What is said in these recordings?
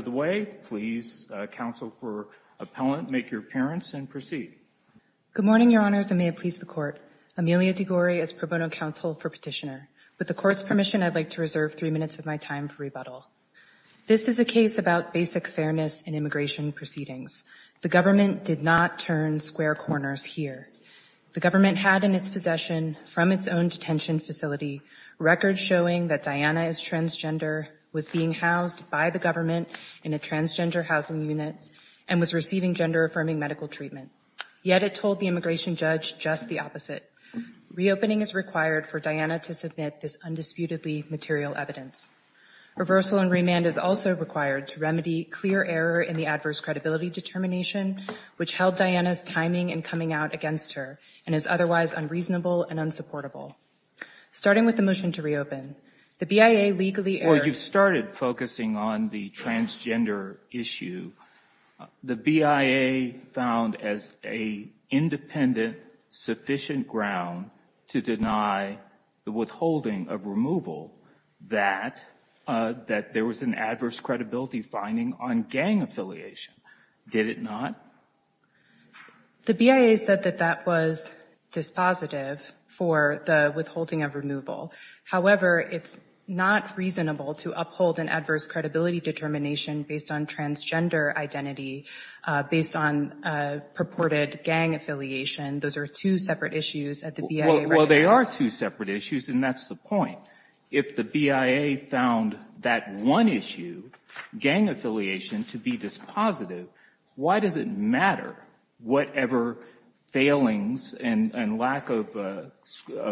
of the way. Please, counsel for appellant, make your appearance and proceed. Good morning, your honors, and may it please the court. Amelia DeGore is pro bono counsel for petitioner. With the court's permission, I'd like to reserve three minutes of my time for rebuttal. This is a case about basic fairness in immigration proceedings. The government did not turn square corners here. The government had in its possession from its own detention facility records showing that Diana is transgender, was being housed by the government in a transgender housing unit, and was receiving gender-affirming medical treatment. Yet it told the immigration judge just the opposite. Reopening is required for Diana to submit this undisputedly material evidence. Reversal and remand is also required to remedy clear error in the adverse credibility determination which held Diana's timing in coming out against her and is otherwise unreasonable and unsupportable. Starting with the motion to reopen, the BIA legally err- Well, you've started focusing on the transgender issue. The BIA found as a independent, sufficient ground to deny the withholding of removal that there was an adverse credibility finding on gang affiliation. Did it not? The BIA said that that was dispositive for the withholding of removal. However, it's not reasonable to uphold an adverse credibility determination based on transgender identity, based on purported gang affiliation. Those are two separate issues at the BIA reference. Well, they are two separate issues, and that's the point. If the BIA found that one issue, gang affiliation, to be dispositive, why does it matter whatever failings and lack of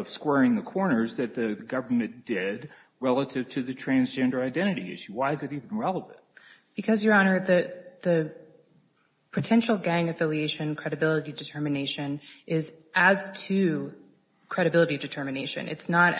squaring the corners that the government did relative to the transgender identity issue? Why is it even relevant? Because, Your Honor, the potential gang affiliation credibility determination is as to credibility determination. It's not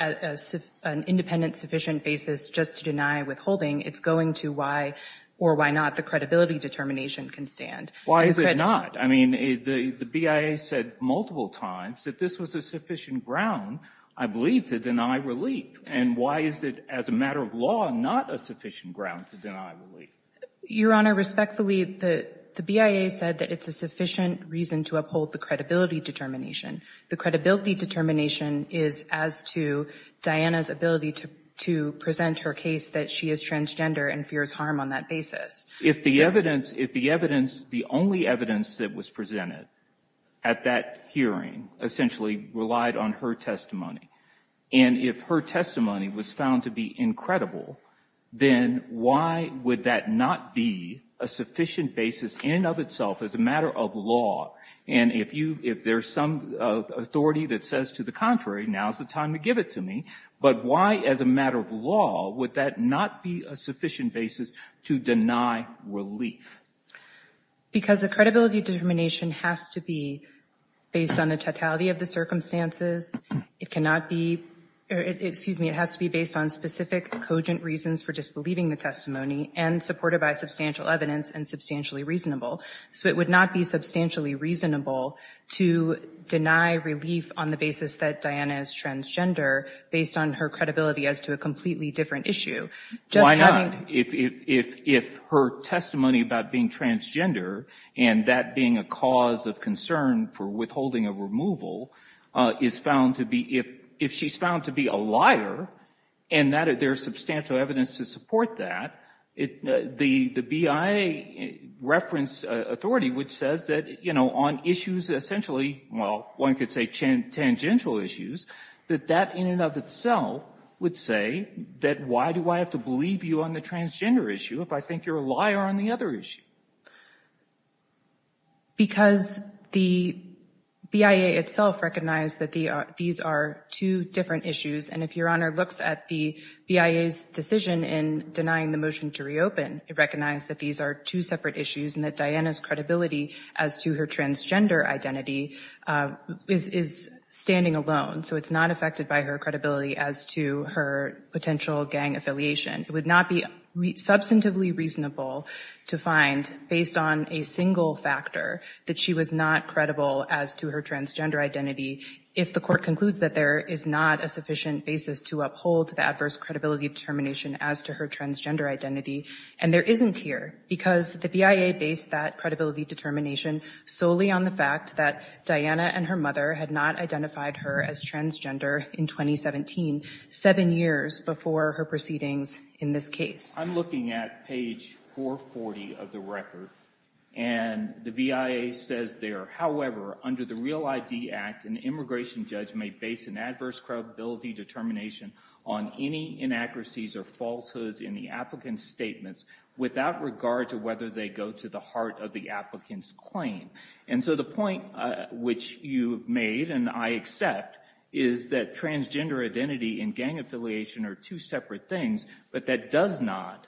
an independent, sufficient basis just to deny withholding. It's going to why or why not the credibility determination can stand. Why is it not? I mean, the BIA said multiple times that this was a sufficient ground, I believe, to deny relief. And why is it, as a matter of law, not a sufficient ground to deny relief? Your Honor, respectfully, the BIA said that it's a sufficient reason to uphold the credibility determination. The credibility determination is as to Diana's ability to present her case that she is transgender and fears harm on that basis. If the evidence, the only evidence that was presented at that hearing essentially relied on her testimony, and if her testimony was found to be incredible, then why would that not be a sufficient basis in and of itself as a matter of law? And if there's some authority that says, to the contrary, now's the time to give it to me, but why, as a matter of law, would that not be a sufficient basis to deny relief? Because the credibility determination has to be based on the totality of the circumstances. It cannot be, excuse me, it has to be based on specific, cogent reasons for disbelieving the testimony and supported by substantial evidence and substantially reasonable. So it would not be substantially reasonable to deny relief on the basis that Diana is transgender based on her credibility as to a completely different issue. Why not? If her testimony about being transgender and that being a cause of concern for withholding a removal is found to be, if she's found to be a liar, and there's substantial evidence to support that, the BIA referenced authority, which says that on issues essentially, well, that in and of itself would say that why do I have to believe you on the transgender issue if I think you're a liar on the other issue? Because the BIA itself recognized that these are two different issues, and if Your Honor looks at the BIA's decision in denying the motion to reopen, it recognized that these are two separate issues and that Diana's credibility as to her transgender identity is standing alone, so it's not affected by her credibility as to her potential gang affiliation. It would not be substantively reasonable to find, based on a single factor, that she was not credible as to her transgender identity if the court concludes that there is not a sufficient basis to uphold the adverse credibility determination as to her transgender identity, and there isn't here, because the BIA based that credibility determination solely on the fact that Diana and her mother had not identified her as transgender in 2017, seven years before her proceedings in this case. I'm looking at page 440 of the record, and the BIA says there, however, under the REAL ID Act, an immigration judge may base an adverse credibility determination on any inaccuracies or falsehoods in the applicant's statements without regard to whether they go to the heart of the applicant's claim. And so the point which you've made, and I accept, is that transgender identity and gang affiliation are two separate things, but that does not,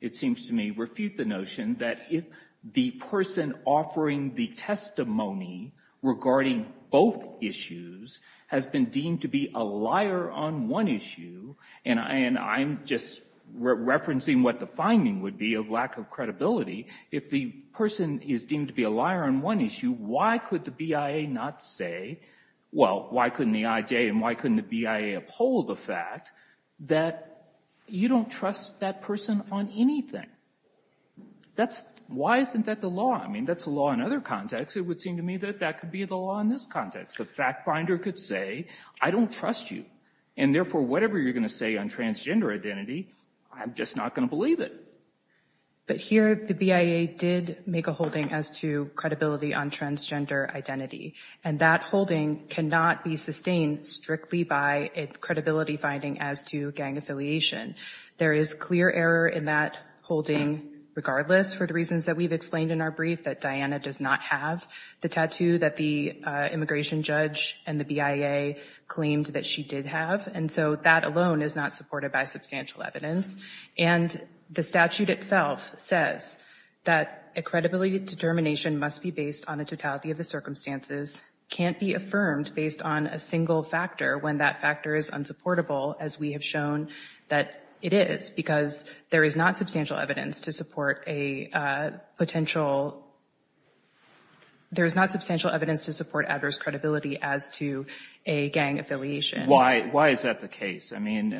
it seems to me, refute the notion that if the person offering the testimony regarding both issues has been deemed to be a liar on one issue, and I'm just referencing what the finding would be of lack of credibility, if the person is deemed to be a liar on one issue, why could the BIA not say, well, why couldn't the IJ and why couldn't the BIA uphold the fact that you don't trust that person on anything? That's, why isn't that the law? I mean, that's a law in other contexts. It would seem to me that that could be the law in this context. A fact finder could say, I don't trust you, and therefore, whatever you're going to say on transgender identity, I'm just not going to believe it. But here, the BIA did make a holding as to credibility on transgender identity, and that holding cannot be sustained strictly by a credibility finding as to gang affiliation. There is clear error in that holding regardless for the reasons that we've explained in our brief that Diana does not have the tattoo that the immigration judge and the BIA claimed that she did have, and so that alone is not supported by substantial evidence. And the statute itself says that a credibility determination must be based on a totality of the circumstances, can't be affirmed based on a single factor when that factor is unsupportable, as we have shown that it is, because there is not substantial evidence to support a potential, there's not Why is that the case? I mean,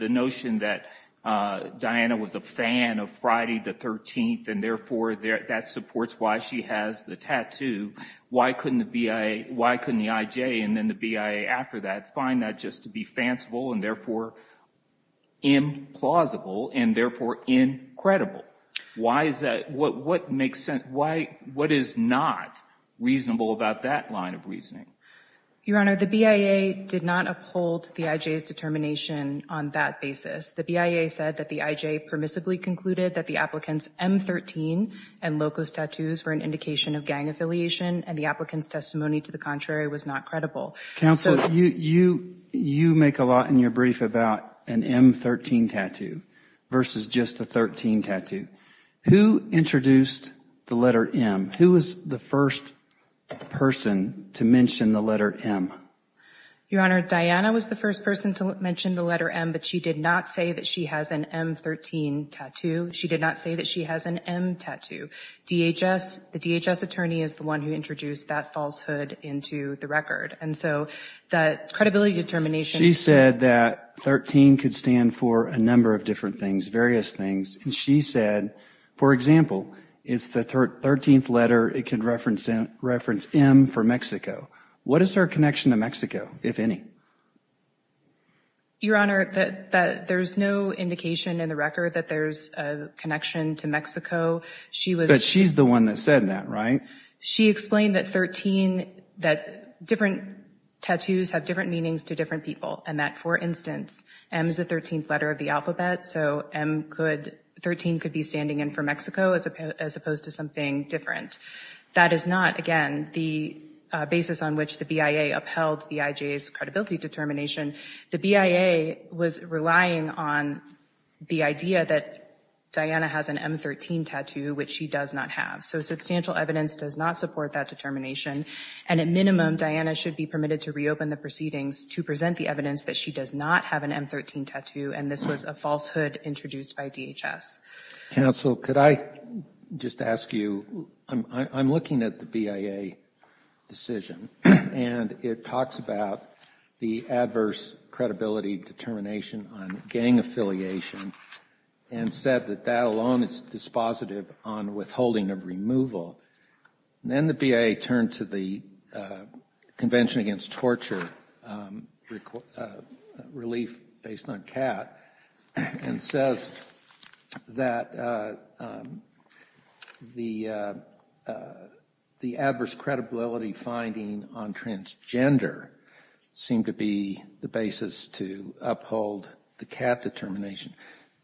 the notion that Diana was a fan of Friday the 13th, and therefore, that supports why she has the tattoo, why couldn't the BIA, why couldn't the IJ and then the BIA after that find that just to be fanciful and therefore implausible and therefore incredible? Why is that, what makes sense, what is not reasonable about that line of reasoning? Your Honor, the BIA did not uphold the IJ's determination on that basis. The BIA said that the IJ permissibly concluded that the applicant's M13 and Locos tattoos were an indication of gang affiliation, and the applicant's testimony to the contrary was not credible. Counsel, you make a lot in your brief about an M13 tattoo versus just a 13 tattoo. Who introduced the letter M? Who was the first person to mention the letter M? Your Honor, Diana was the first person to mention the letter M, but she did not say that she has an M13 tattoo. She did not say that she has an M tattoo. DHS, the DHS attorney is the one who introduced that falsehood into the record, and so the credibility determination She said that 13 could stand for a number of different things, various things, and she said, for example, it's the 13th letter, it could reference M for Mexico. What is her connection to Mexico, if any? Your Honor, there's no indication in the record that there's a connection to Mexico. She was But she's the one that said that, right? She explained that 13, that different tattoos have different meanings to different people, and that, for instance, M is the 13th letter of the alphabet, so 13 could be standing in for Mexico as opposed to something different. That is not, again, the basis on which the BIA upheld the IJA's credibility determination. The BIA was relying on the idea that Diana has an M13 tattoo, which she does not have. So substantial evidence does not support that determination, and at minimum, Diana should be permitted to reopen the proceedings to present the evidence that she does not have an M13 tattoo, and this was a falsehood introduced by DHS. Counsel, could I just ask you, I'm looking at the BIA decision, and it talks about the adverse credibility determination on gang affiliation, and said that that alone is dispositive on withholding of removal. Then the BIA turned to the Convention Against Torture request, relief based on CAT, and says that the adverse credibility finding on transgender seemed to be the basis to uphold the CAT determination.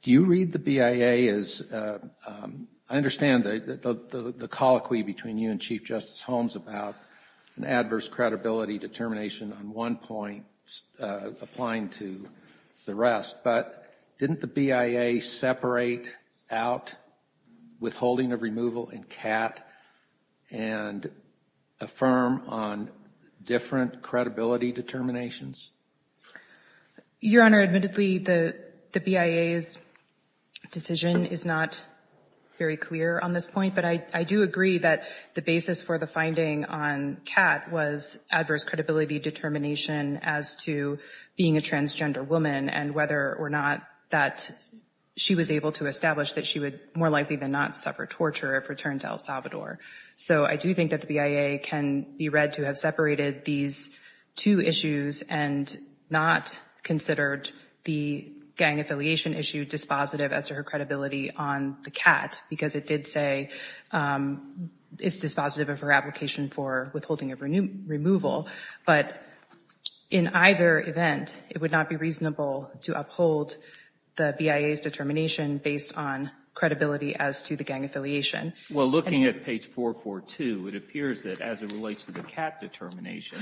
Do you read the BIA as, I understand the colloquy between you and Chief Justice Holmes about an adverse credibility determination on one point applying to the rest, but didn't the BIA separate out withholding of removal in CAT and affirm on different credibility determinations? Your Honor, admittedly, the BIA's decision is not very clear on this point, but I do agree that the basis for the finding on CAT was adverse credibility determination as to being a transgender woman, and whether or not that she was able to establish that she would more likely than not suffer torture if returned to El Salvador. So I do think that the BIA can be read to have separated these two issues and not considered the gang affiliation. It's dispositive of her application for withholding of removal, but in either event, it would not be reasonable to uphold the BIA's determination based on credibility as to the gang affiliation. Well, looking at page 442, it appears that as it relates to the CAT determination,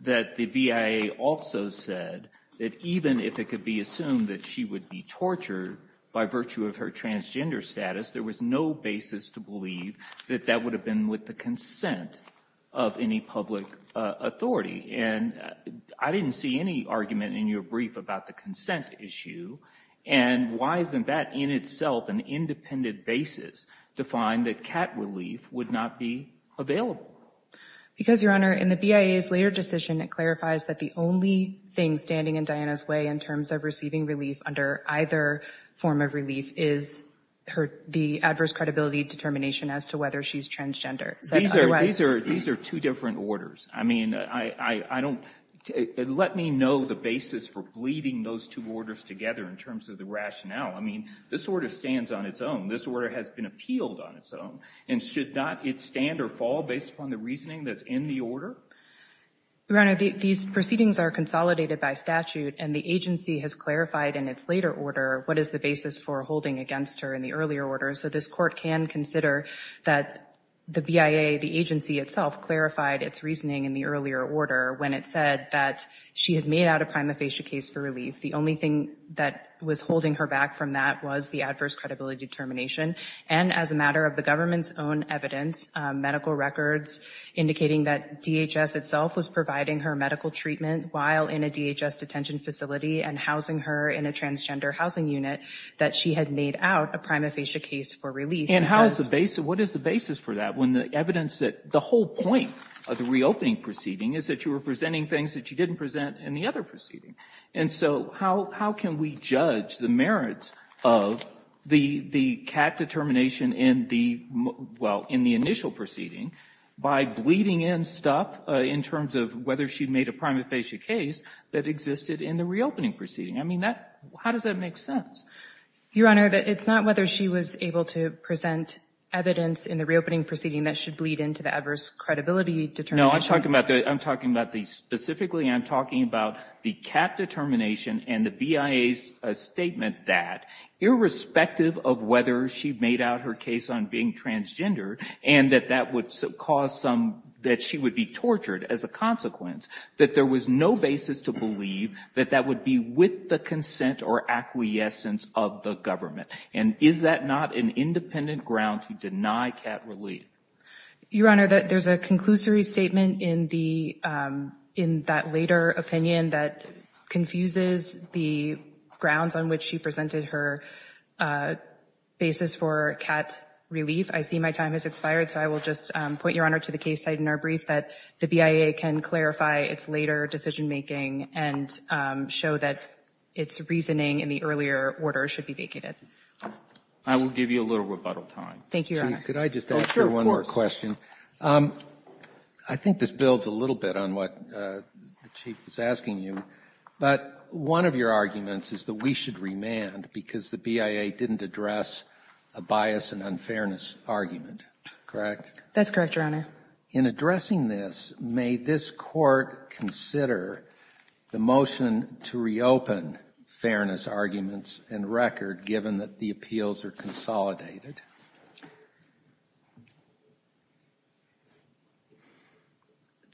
that the BIA also said that even if it could be assumed that she would be tortured by virtue of her transgender status, there was no basis to believe that that would have been with the consent of any public authority. And I didn't see any argument in your brief about the consent issue, and why isn't that in itself an independent basis to find that CAT relief would not be available? Because Your Honor, in the BIA's later decision, it clarifies that the only thing standing in Diana's way in terms of receiving relief under either form of relief is the adverse credibility determination as to whether she's transgender. These are two different orders. I mean, let me know the basis for bleeding those two orders together in terms of the rationale. I mean, this order stands on its own. This order has been appealed on its own. And should not it stand or fall based upon the reasoning that's in the order? Your Honor, these proceedings are consolidated by statute, and the agency has clarified in its later order what is the basis for holding against her in the earlier order. So this court can consider that the BIA, the agency itself, clarified its reasoning in the earlier order when it said that she has made out a prima facie case for relief. The only thing that was holding her back from that was the adverse credibility determination. And as a matter of the government's own evidence, medical records indicating that DHS itself was providing her medical treatment while in a DHS detention facility and housing her in a transgender housing unit, that she had made out a prima facie case for relief. And what is the basis for that when the evidence that the whole point of the reopening proceeding is that you were presenting things that you didn't present in the other proceeding? And So how can we judge the merits of the CAT determination in the, well, in the initial proceeding by bleeding in stuff in terms of whether she made a prima facie case that existed in the reopening proceeding? I mean, how does that make sense? Your Honor, it's not whether she was able to present evidence in the reopening proceeding that should bleed into the adverse credibility determination. No, I'm talking about the, I'm talking about the, specifically, I'm talking about the CAT determination and the BIA's statement that irrespective of whether she made out her case on being transgender and that that would cause some, that she would be tortured as a consequence, that there was no basis to believe that that would be with the consent or acquiescence of the government. And is that not an independent ground to deny CAT relief? Your Honor, there's a conclusory statement in the, in that later opinion that confuses the grounds on which she presented her basis for CAT relief. I see my time has expired, so I will just point Your Honor to the case site in our brief that the BIA can clarify its later decision making and show that its reasoning in the earlier order should be vacated. I will give you a little rebuttal time. Thank you, Your Honor. Could I just ask you one more question? I think this builds a little bit on what the Chief was asking you, but one of your arguments is that we should remand because the BIA didn't address a bias and unfairness argument, correct? That's correct, Your Honor. In addressing this, may this Court consider the motion to reopen fairness arguments and record given that the appeals are consolidated?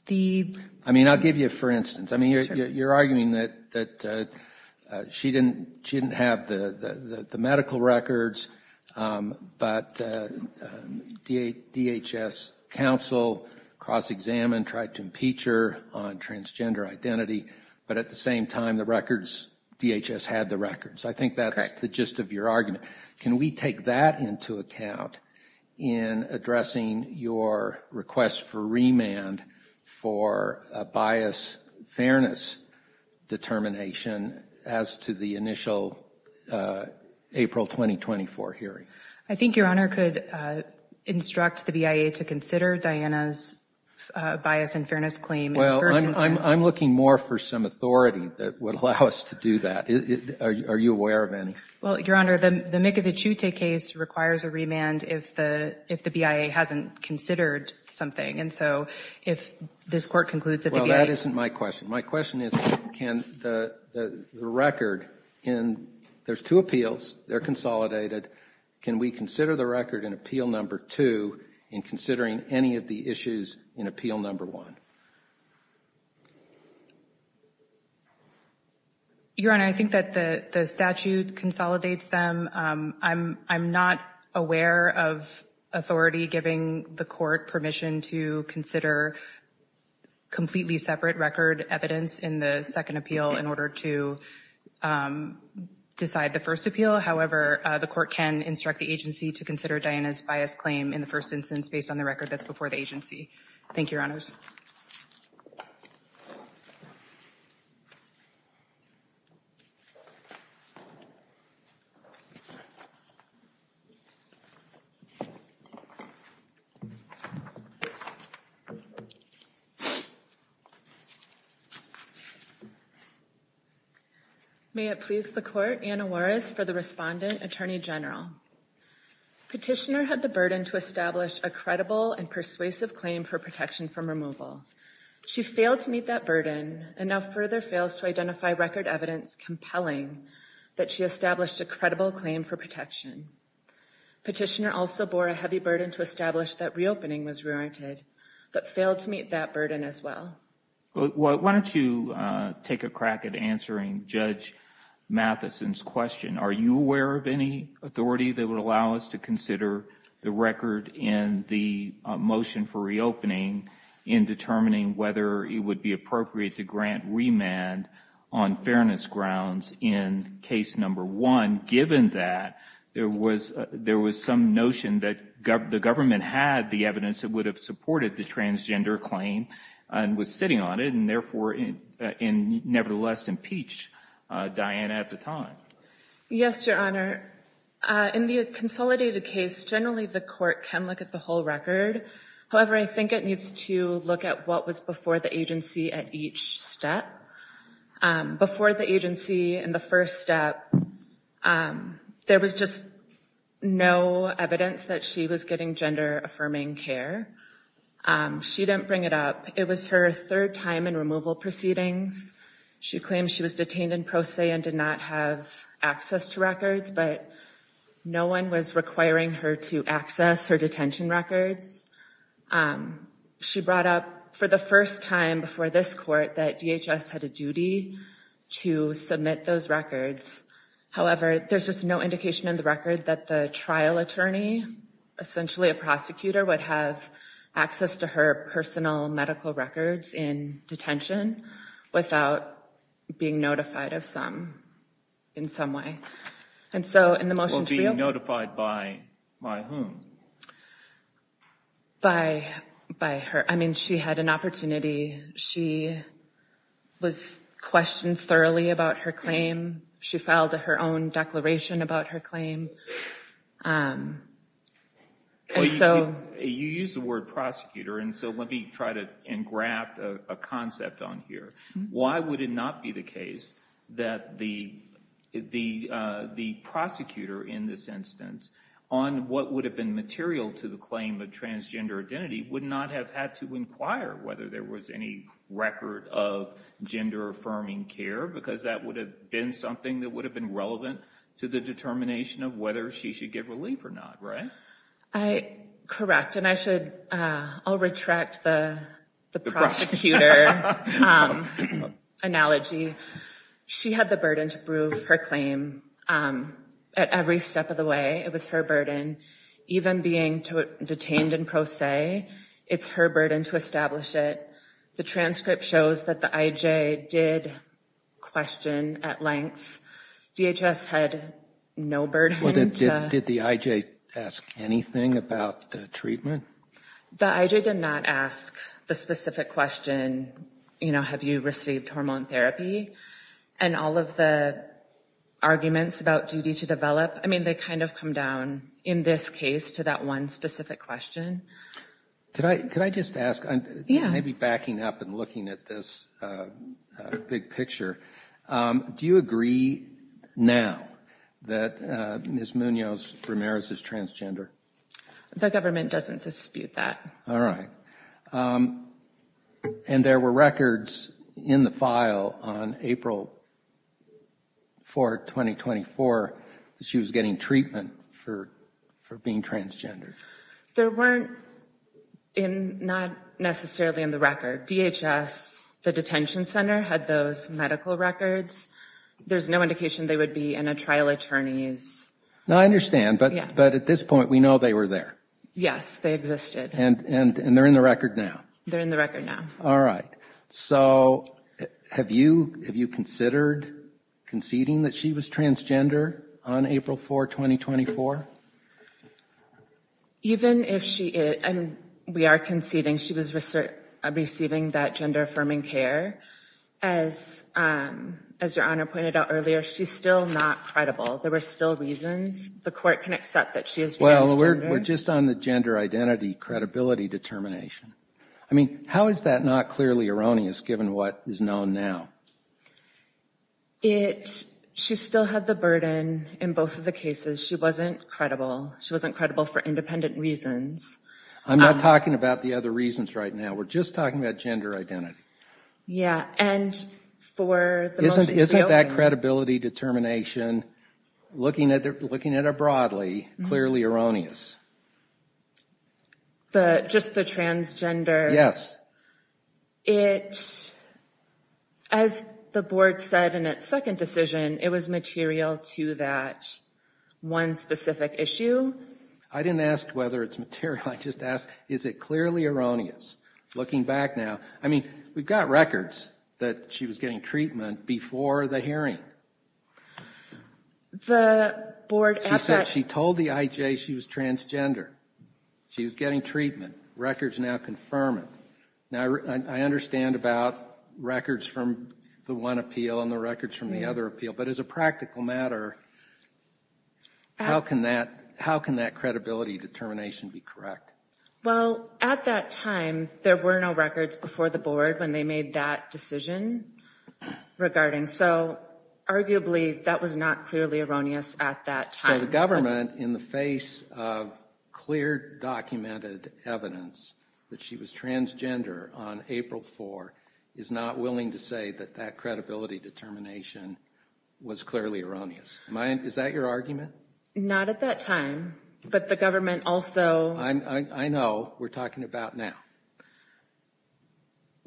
The... I mean, I'll give you a for instance. I mean, you're arguing that she didn't have the medical records, but DHS counsel cross-examined, tried to impeach her on transgender identity, but at the same time, the records, DHS had the records. I think that's the gist of your argument. Can we take that into account in addressing your request for remand for a bias fairness determination as to the initial April 2024 hearing? I think Your Honor could instruct the BIA to consider Diana's bias and fairness claim in the first instance. I'm looking more for some authority that would allow us to do that. Are you aware of any? Well, Your Honor, the Mikita-Chute case requires a remand if the BIA hasn't considered something, and so if this Court concludes that the BIA... Well, that isn't my question. My question is, can the record in... There's two appeals, they're consolidated. Can we consider the record in appeal number two in considering any of the issues in appeal number one? Your Honor, I think that the statute consolidates them. I'm not aware of authority giving the Court permission to consider completely separate record evidence in the second appeal in order to decide the first appeal. However, the Court can instruct the agency to consider Diana's bias claim in the first instance based on the record that's before the agency. Thank you, Your Honors. May it please the Court, Anna Juarez for the respondent, Attorney General. Petitioner had the burden to establish a credible and persuasive claim for protection from removal. She failed to meet that burden and now further fails to identify record evidence compelling that she established a credible claim for protection. Petitioner also bore a heavy burden to establish that reopening was warranted, but failed to meet that burden as well. Well, why don't you take a crack at answering Judge Matheson's question? Are you aware of any authority that would allow us to consider the record in the motion for reopening in determining whether it would be appropriate to grant remand on fairness grounds in case number one, given that there was some notion that the government had the evidence that would have supported the transgender claim and was sitting on it and, nevertheless, impeached Diana at the time? Yes, Your Honor. In the consolidated case, generally the court can look at the whole record. However, I think it needs to look at what was before the agency at each step. Before the agency in the first step, there was just no evidence that she was getting gender-affirming care. She didn't bring it up. It was her third time in removal proceedings. She claimed she was detained in pro se and did not have access to records, but no one was requiring her to access her detention records. She brought up for the first time before this court that DHS had a duty to submit those records. However, there's just no indication in the record that the trial attorney, essentially a prosecutor, would have access to her personal medical records in detention without being notified of some in some way. Well, being notified by whom? By her. I mean, she had an opportunity. She was questioned thoroughly about her claim. She filed her own declaration about her claim. Well, you used the word prosecutor, and so let me try to engraft a concept on here. Why would it not be the case that the prosecutor in this instance, on what would have been material to the claim of transgender identity, would not have had to inquire whether there was any record of gender-affirming care? Because that would have been something that would determine whether she should get relief or not, right? Correct, and I'll retract the prosecutor analogy. She had the burden to prove her claim at every step of the way. It was her burden. Even being detained in pro se, it's her burden to establish it. The transcript shows that the IJ did question at length. DHS had no burden. Did the IJ ask anything about the treatment? The IJ did not ask the specific question, you know, have you received hormone therapy? And all of the arguments about duty to develop, I mean, they kind of come down, in this case, to that one specific question. Could I just ask, maybe backing up and looking at this big picture, do you agree now that Ms. Munoz-Ramirez is transgender? The government doesn't dispute that. All right. And there were records in the file on April 4, 2024, that she was getting treatment for being transgender? There weren't, not necessarily in the record. DHS, the detention center, had those medical records. There's no indication they would be in a trial attorney's. No, I understand. But at this point, we know they were there. Yes, they existed. And they're in the record now? They're in the record now. All right. So have you considered conceding that she was transgender on April 4, 2024? Even if she is, and we are conceding she was receiving that gender-affirming care, as your Honor pointed out earlier, she's still not credible. There were still reasons. The court can accept that she is transgender. Well, we're just on the gender identity credibility determination. I mean, how is that not clearly erroneous, given what is known now? She still had the burden in both of the cases. She wasn't credible. She wasn't credible for independent reasons. I'm not talking about the other reasons right now. We're just talking about gender identity. Yeah, and for the motion to be opened... Isn't that credibility determination, looking at it broadly, clearly erroneous? Just the transgender... Yes. It... As the board said in its second decision, it was material to that one specific issue. I didn't ask whether it's material. I just asked, is it clearly erroneous? Looking back now, I mean, we've got records that she was getting treatment before the hearing. The board... She said she told the IJ she was transgender. She was getting treatment. Records now confirm it. Now, I understand about records from the one appeal and the records from the other appeal, but as a practical matter, how can that credibility determination be correct? Well, at that time, there were no records before the board when they made that decision regarding... So, arguably, that was not clearly erroneous at that time. So, the government, in the face of clear documented evidence that she was transgender on April 4, is not willing to say that that credibility determination was clearly erroneous. Is that your argument? Not at that time, but the government also... I know. We're talking about now.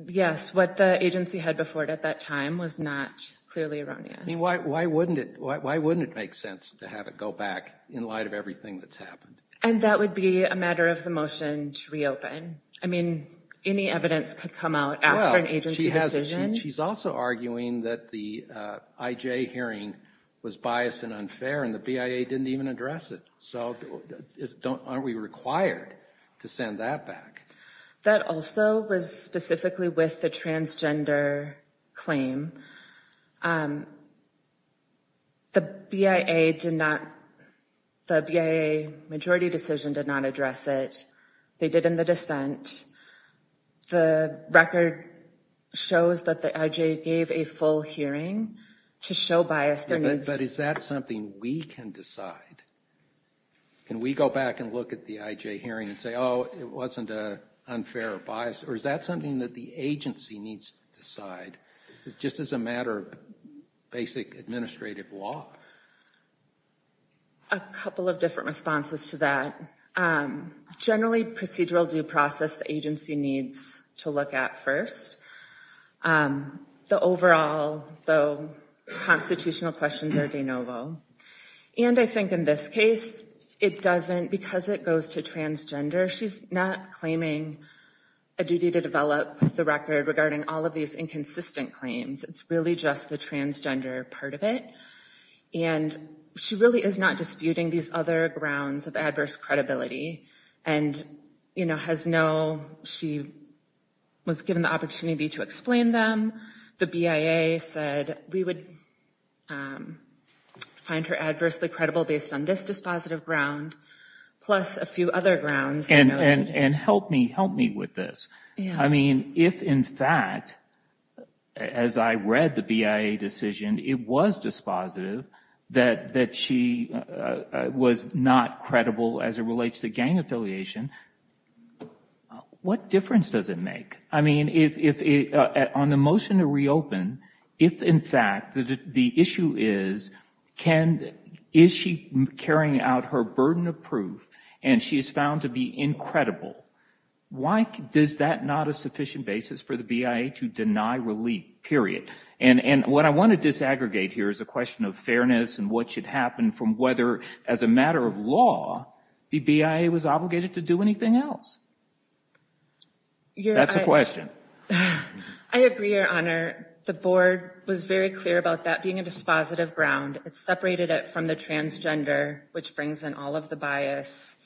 Yes, what the agency had before it at that time was not clearly erroneous. I mean, why wouldn't it make sense to have it go back in light of everything that's happened? And that would be a matter of the motion to reopen. I mean, any evidence could come out after an agency decision. She's also arguing that the IJ hearing was biased and unfair and the BIA didn't even address it. So, aren't we required to send that back? That also was specifically with the transgender claim. The BIA did not... The BIA majority decision did not address it. They did in the dissent. The record shows that the IJ gave a full hearing to show bias. But is that something we can decide? Can we go back and look at the IJ hearing and say, oh, it wasn't unfair or biased? Or is that something that the agency needs to decide? It's just as a matter of basic administrative law. A couple of different responses to that. Generally, procedural due process, the agency needs to look at first. The overall constitutional questions are de novo. And I think in this case, it doesn't... Because it goes to transgender, she's not claiming a duty to develop the record regarding all of these inconsistent claims. It's really just the transgender part of it. And she really is not disputing these other grounds of adverse credibility. And, you know, has no... She was given the opportunity to explain them. The BIA said we would find her adversely credible based on this dispositive ground, plus a few other grounds. And help me with this. I mean, if in fact, as I read the BIA decision, it was dispositive that she was not credible as it relates to gang affiliation, what difference does it make? I mean, on the motion to reopen, if in fact the issue is, is she carrying out her burden of proof and she is found to be incredible, why is that not a sufficient basis for the BIA to deny relief, period? And what I want to disaggregate here is a question of fairness and what should happen from whether, as a matter of law, the BIA was obligated to do anything else. That's a question. I agree, Your Honor. The board was very clear about that being a dispositive ground. It separated it from the transgender, which brings in all of the bias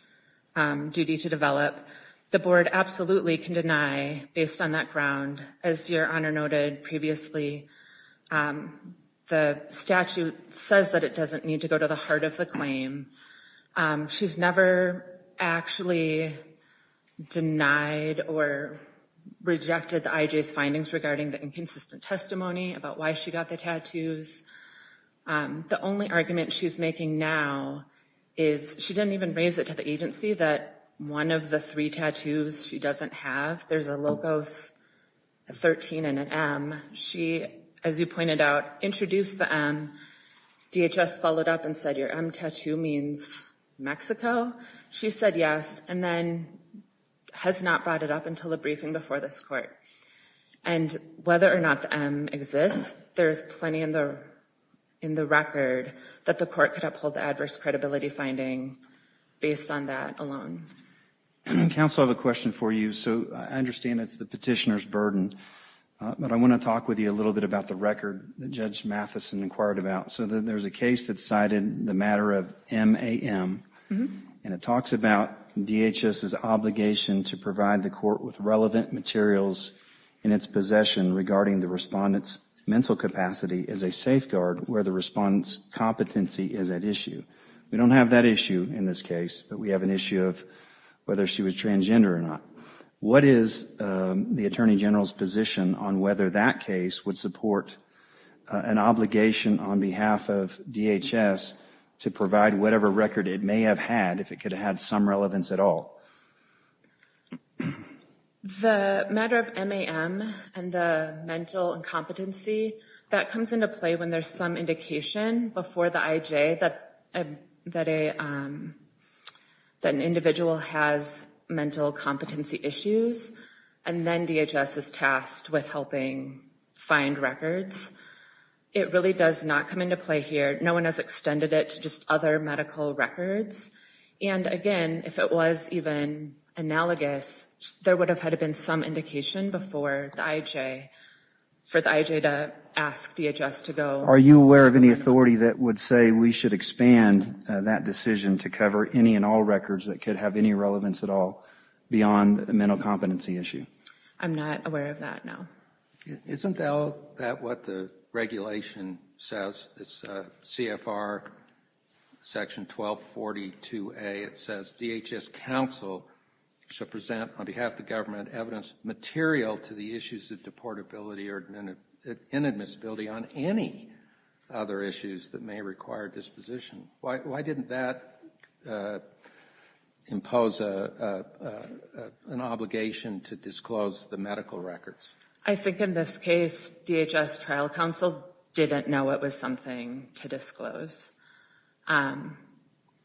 duty to develop. The board absolutely can deny based on that ground. As Your Honor noted previously, the statute says that it doesn't need to go to the heart of the claim. She's never actually denied or rejected the IJ's findings regarding the inconsistent testimony about why she got the tattoos. The only argument she's making now is she didn't even raise it to the agency that one of the three tattoos she doesn't have, there's a locos, a 13, and an M. She, as you pointed out, introduced the M. DHS followed up and said your M tattoo means Mexico. She said yes and then has not brought it up until the briefing before this court. And whether or not the M exists, there's plenty in the record that the court could uphold the adverse credibility finding based on that alone. Counsel, I have a question for you. So I understand it's the petitioner's burden, but I want to talk with you a little bit about the record that Judge Mathison inquired about. So there's a case that cited the matter of MAM, and it talks about DHS's obligation to provide the court with relevant materials in its possession regarding the respondent's mental capacity as a safeguard where the respondent's competency is at issue. We don't have that issue in this case, but we have an issue of whether she was transgender or not. What is the Attorney General's position on whether that case would support an obligation on behalf of DHS to provide whatever record it may have had, if it could have had some relevance at all? The matter of MAM and the mental incompetency, that comes into play when there's some indication before the IJ that an individual has mental competency issues and then DHS is tasked with helping find records. It really does not come into play here. No one has extended it to just other medical records. And again, if it was even analogous, there would have had been some indication before the IJ for the IJ to ask DHS to go. Are you aware of any authority that would say we should expand that decision to cover any and all records that could have any relevance at all beyond the mental competency issue? I'm not aware of that, no. Isn't that what the regulation says? It's CFR section 1242A. It says DHS counsel should present on behalf of the government evidence material to the issues of deportability or inadmissibility on any other issues that may require disposition. Why didn't that impose an obligation to disclose the medical records? I think in this case, DHS trial counsel didn't know it was something to disclose. Is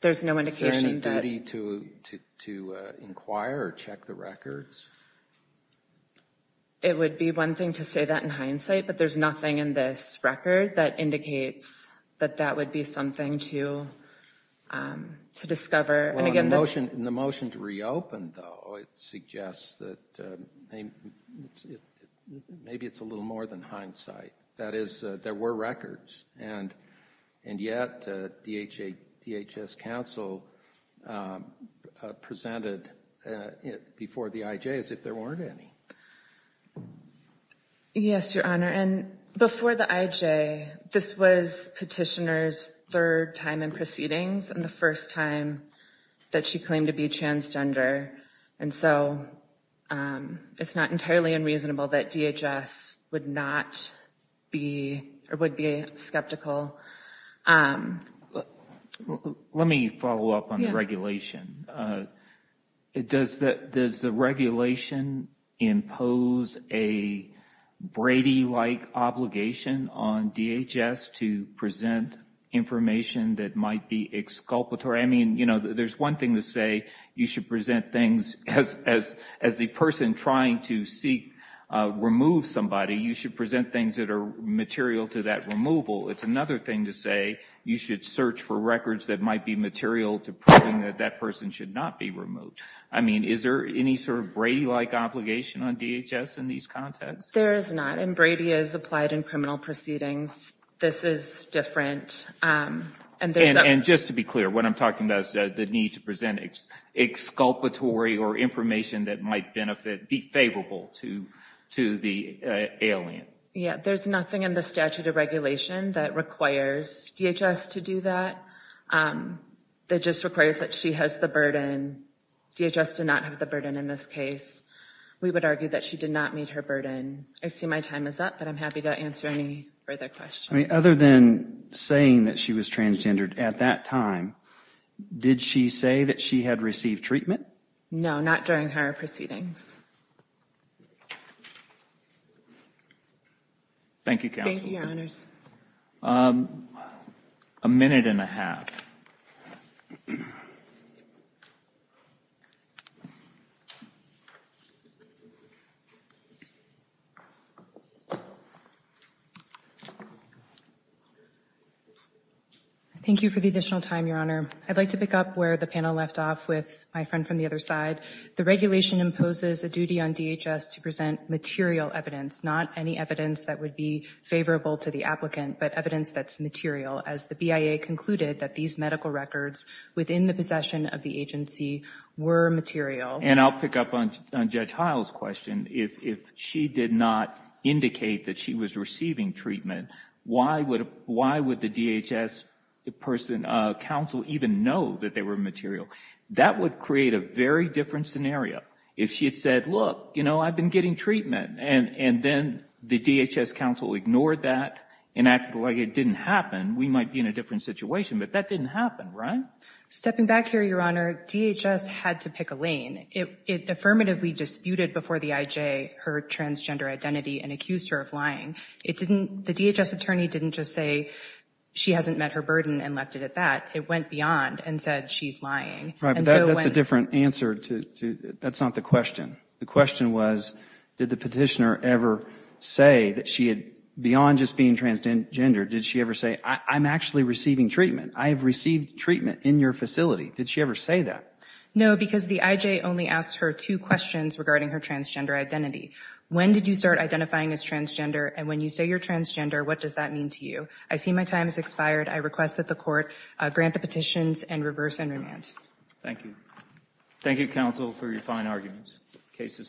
there any duty to inquire or check the records? It would be one thing to say that in hindsight, but there's nothing in this record that indicates that that would be something to discover. In the motion to reopen, though, it suggests that maybe it's a little more than hindsight. That is, there were records, and yet DHS counsel presented it before the IJ as if there weren't any. Yes, Your Honor, and before the IJ, this was petitioner's third time in proceedings and the first time that she claimed to be transgender. And so it's not entirely unreasonable that DHS would not be or would be skeptical. Let me follow up on the regulation. Does the regulation impose a Brady-like obligation on DHS to present information that might be exculpatory? I mean, you know, there's one thing to say you should present things as the person trying to remove somebody. You should present things that are material to that removal. It's another thing to say you should search for records that might be material to proving that that person should not be removed. I mean, is there any sort of Brady-like obligation on DHS in these contexts? There is not, and Brady is applied in criminal proceedings. This is different. And just to be clear, what I'm talking about is the need to present exculpatory or information that might benefit, be favorable to the alien. Yeah, there's nothing in the statute of regulation that requires DHS to do that. It just requires that she has the burden. DHS did not have the burden in this case. We would argue that she did not meet her burden. I see my time is up, but I'm happy to answer any further questions. I mean, other than saying that she was transgendered at that time, did she say that she had received treatment? No, not during her proceedings. Thank you, Counsel. Thank you, Your Honors. A minute and a half. Thank you for the additional time, Your Honor. I'd like to pick up where the panel left off with my friend from the other side. The regulation imposes a duty on DHS to present material evidence, not any evidence that would be favorable to the applicant, but evidence that's material, as the BIA concluded that these medical records within the possession of the agency were material. And I'll pick up on Judge Heil's question. If she did not indicate that she was receiving treatment, why would the DHS person, counsel, even know that they were material? That would create a very different scenario. If she had said, look, you know, I've been getting treatment, and then the DHS counsel ignored that and acted like it didn't happen, we might be in a different situation. But that didn't happen, right? Stepping back here, Your Honor, DHS had to pick a lane. It affirmatively disputed before the IJ her transgender identity and accused her of lying. The DHS attorney didn't just say she hasn't met her burden and left it at that. It went beyond and said she's lying. Right, but that's a different answer. That's not the question. The question was, did the petitioner ever say that she had, beyond just being transgender, did she ever say, I'm actually receiving treatment? I have received treatment in your facility. Did she ever say that? No, because the IJ only asked her two questions regarding her transgender identity. When did you start identifying as transgender? And when you say you're transgender, what does that mean to you? I see my time has expired. I request that the Court grant the petitions and reverse and remand. Thank you. Thank you, counsel, for your fine arguments. The case is submitted.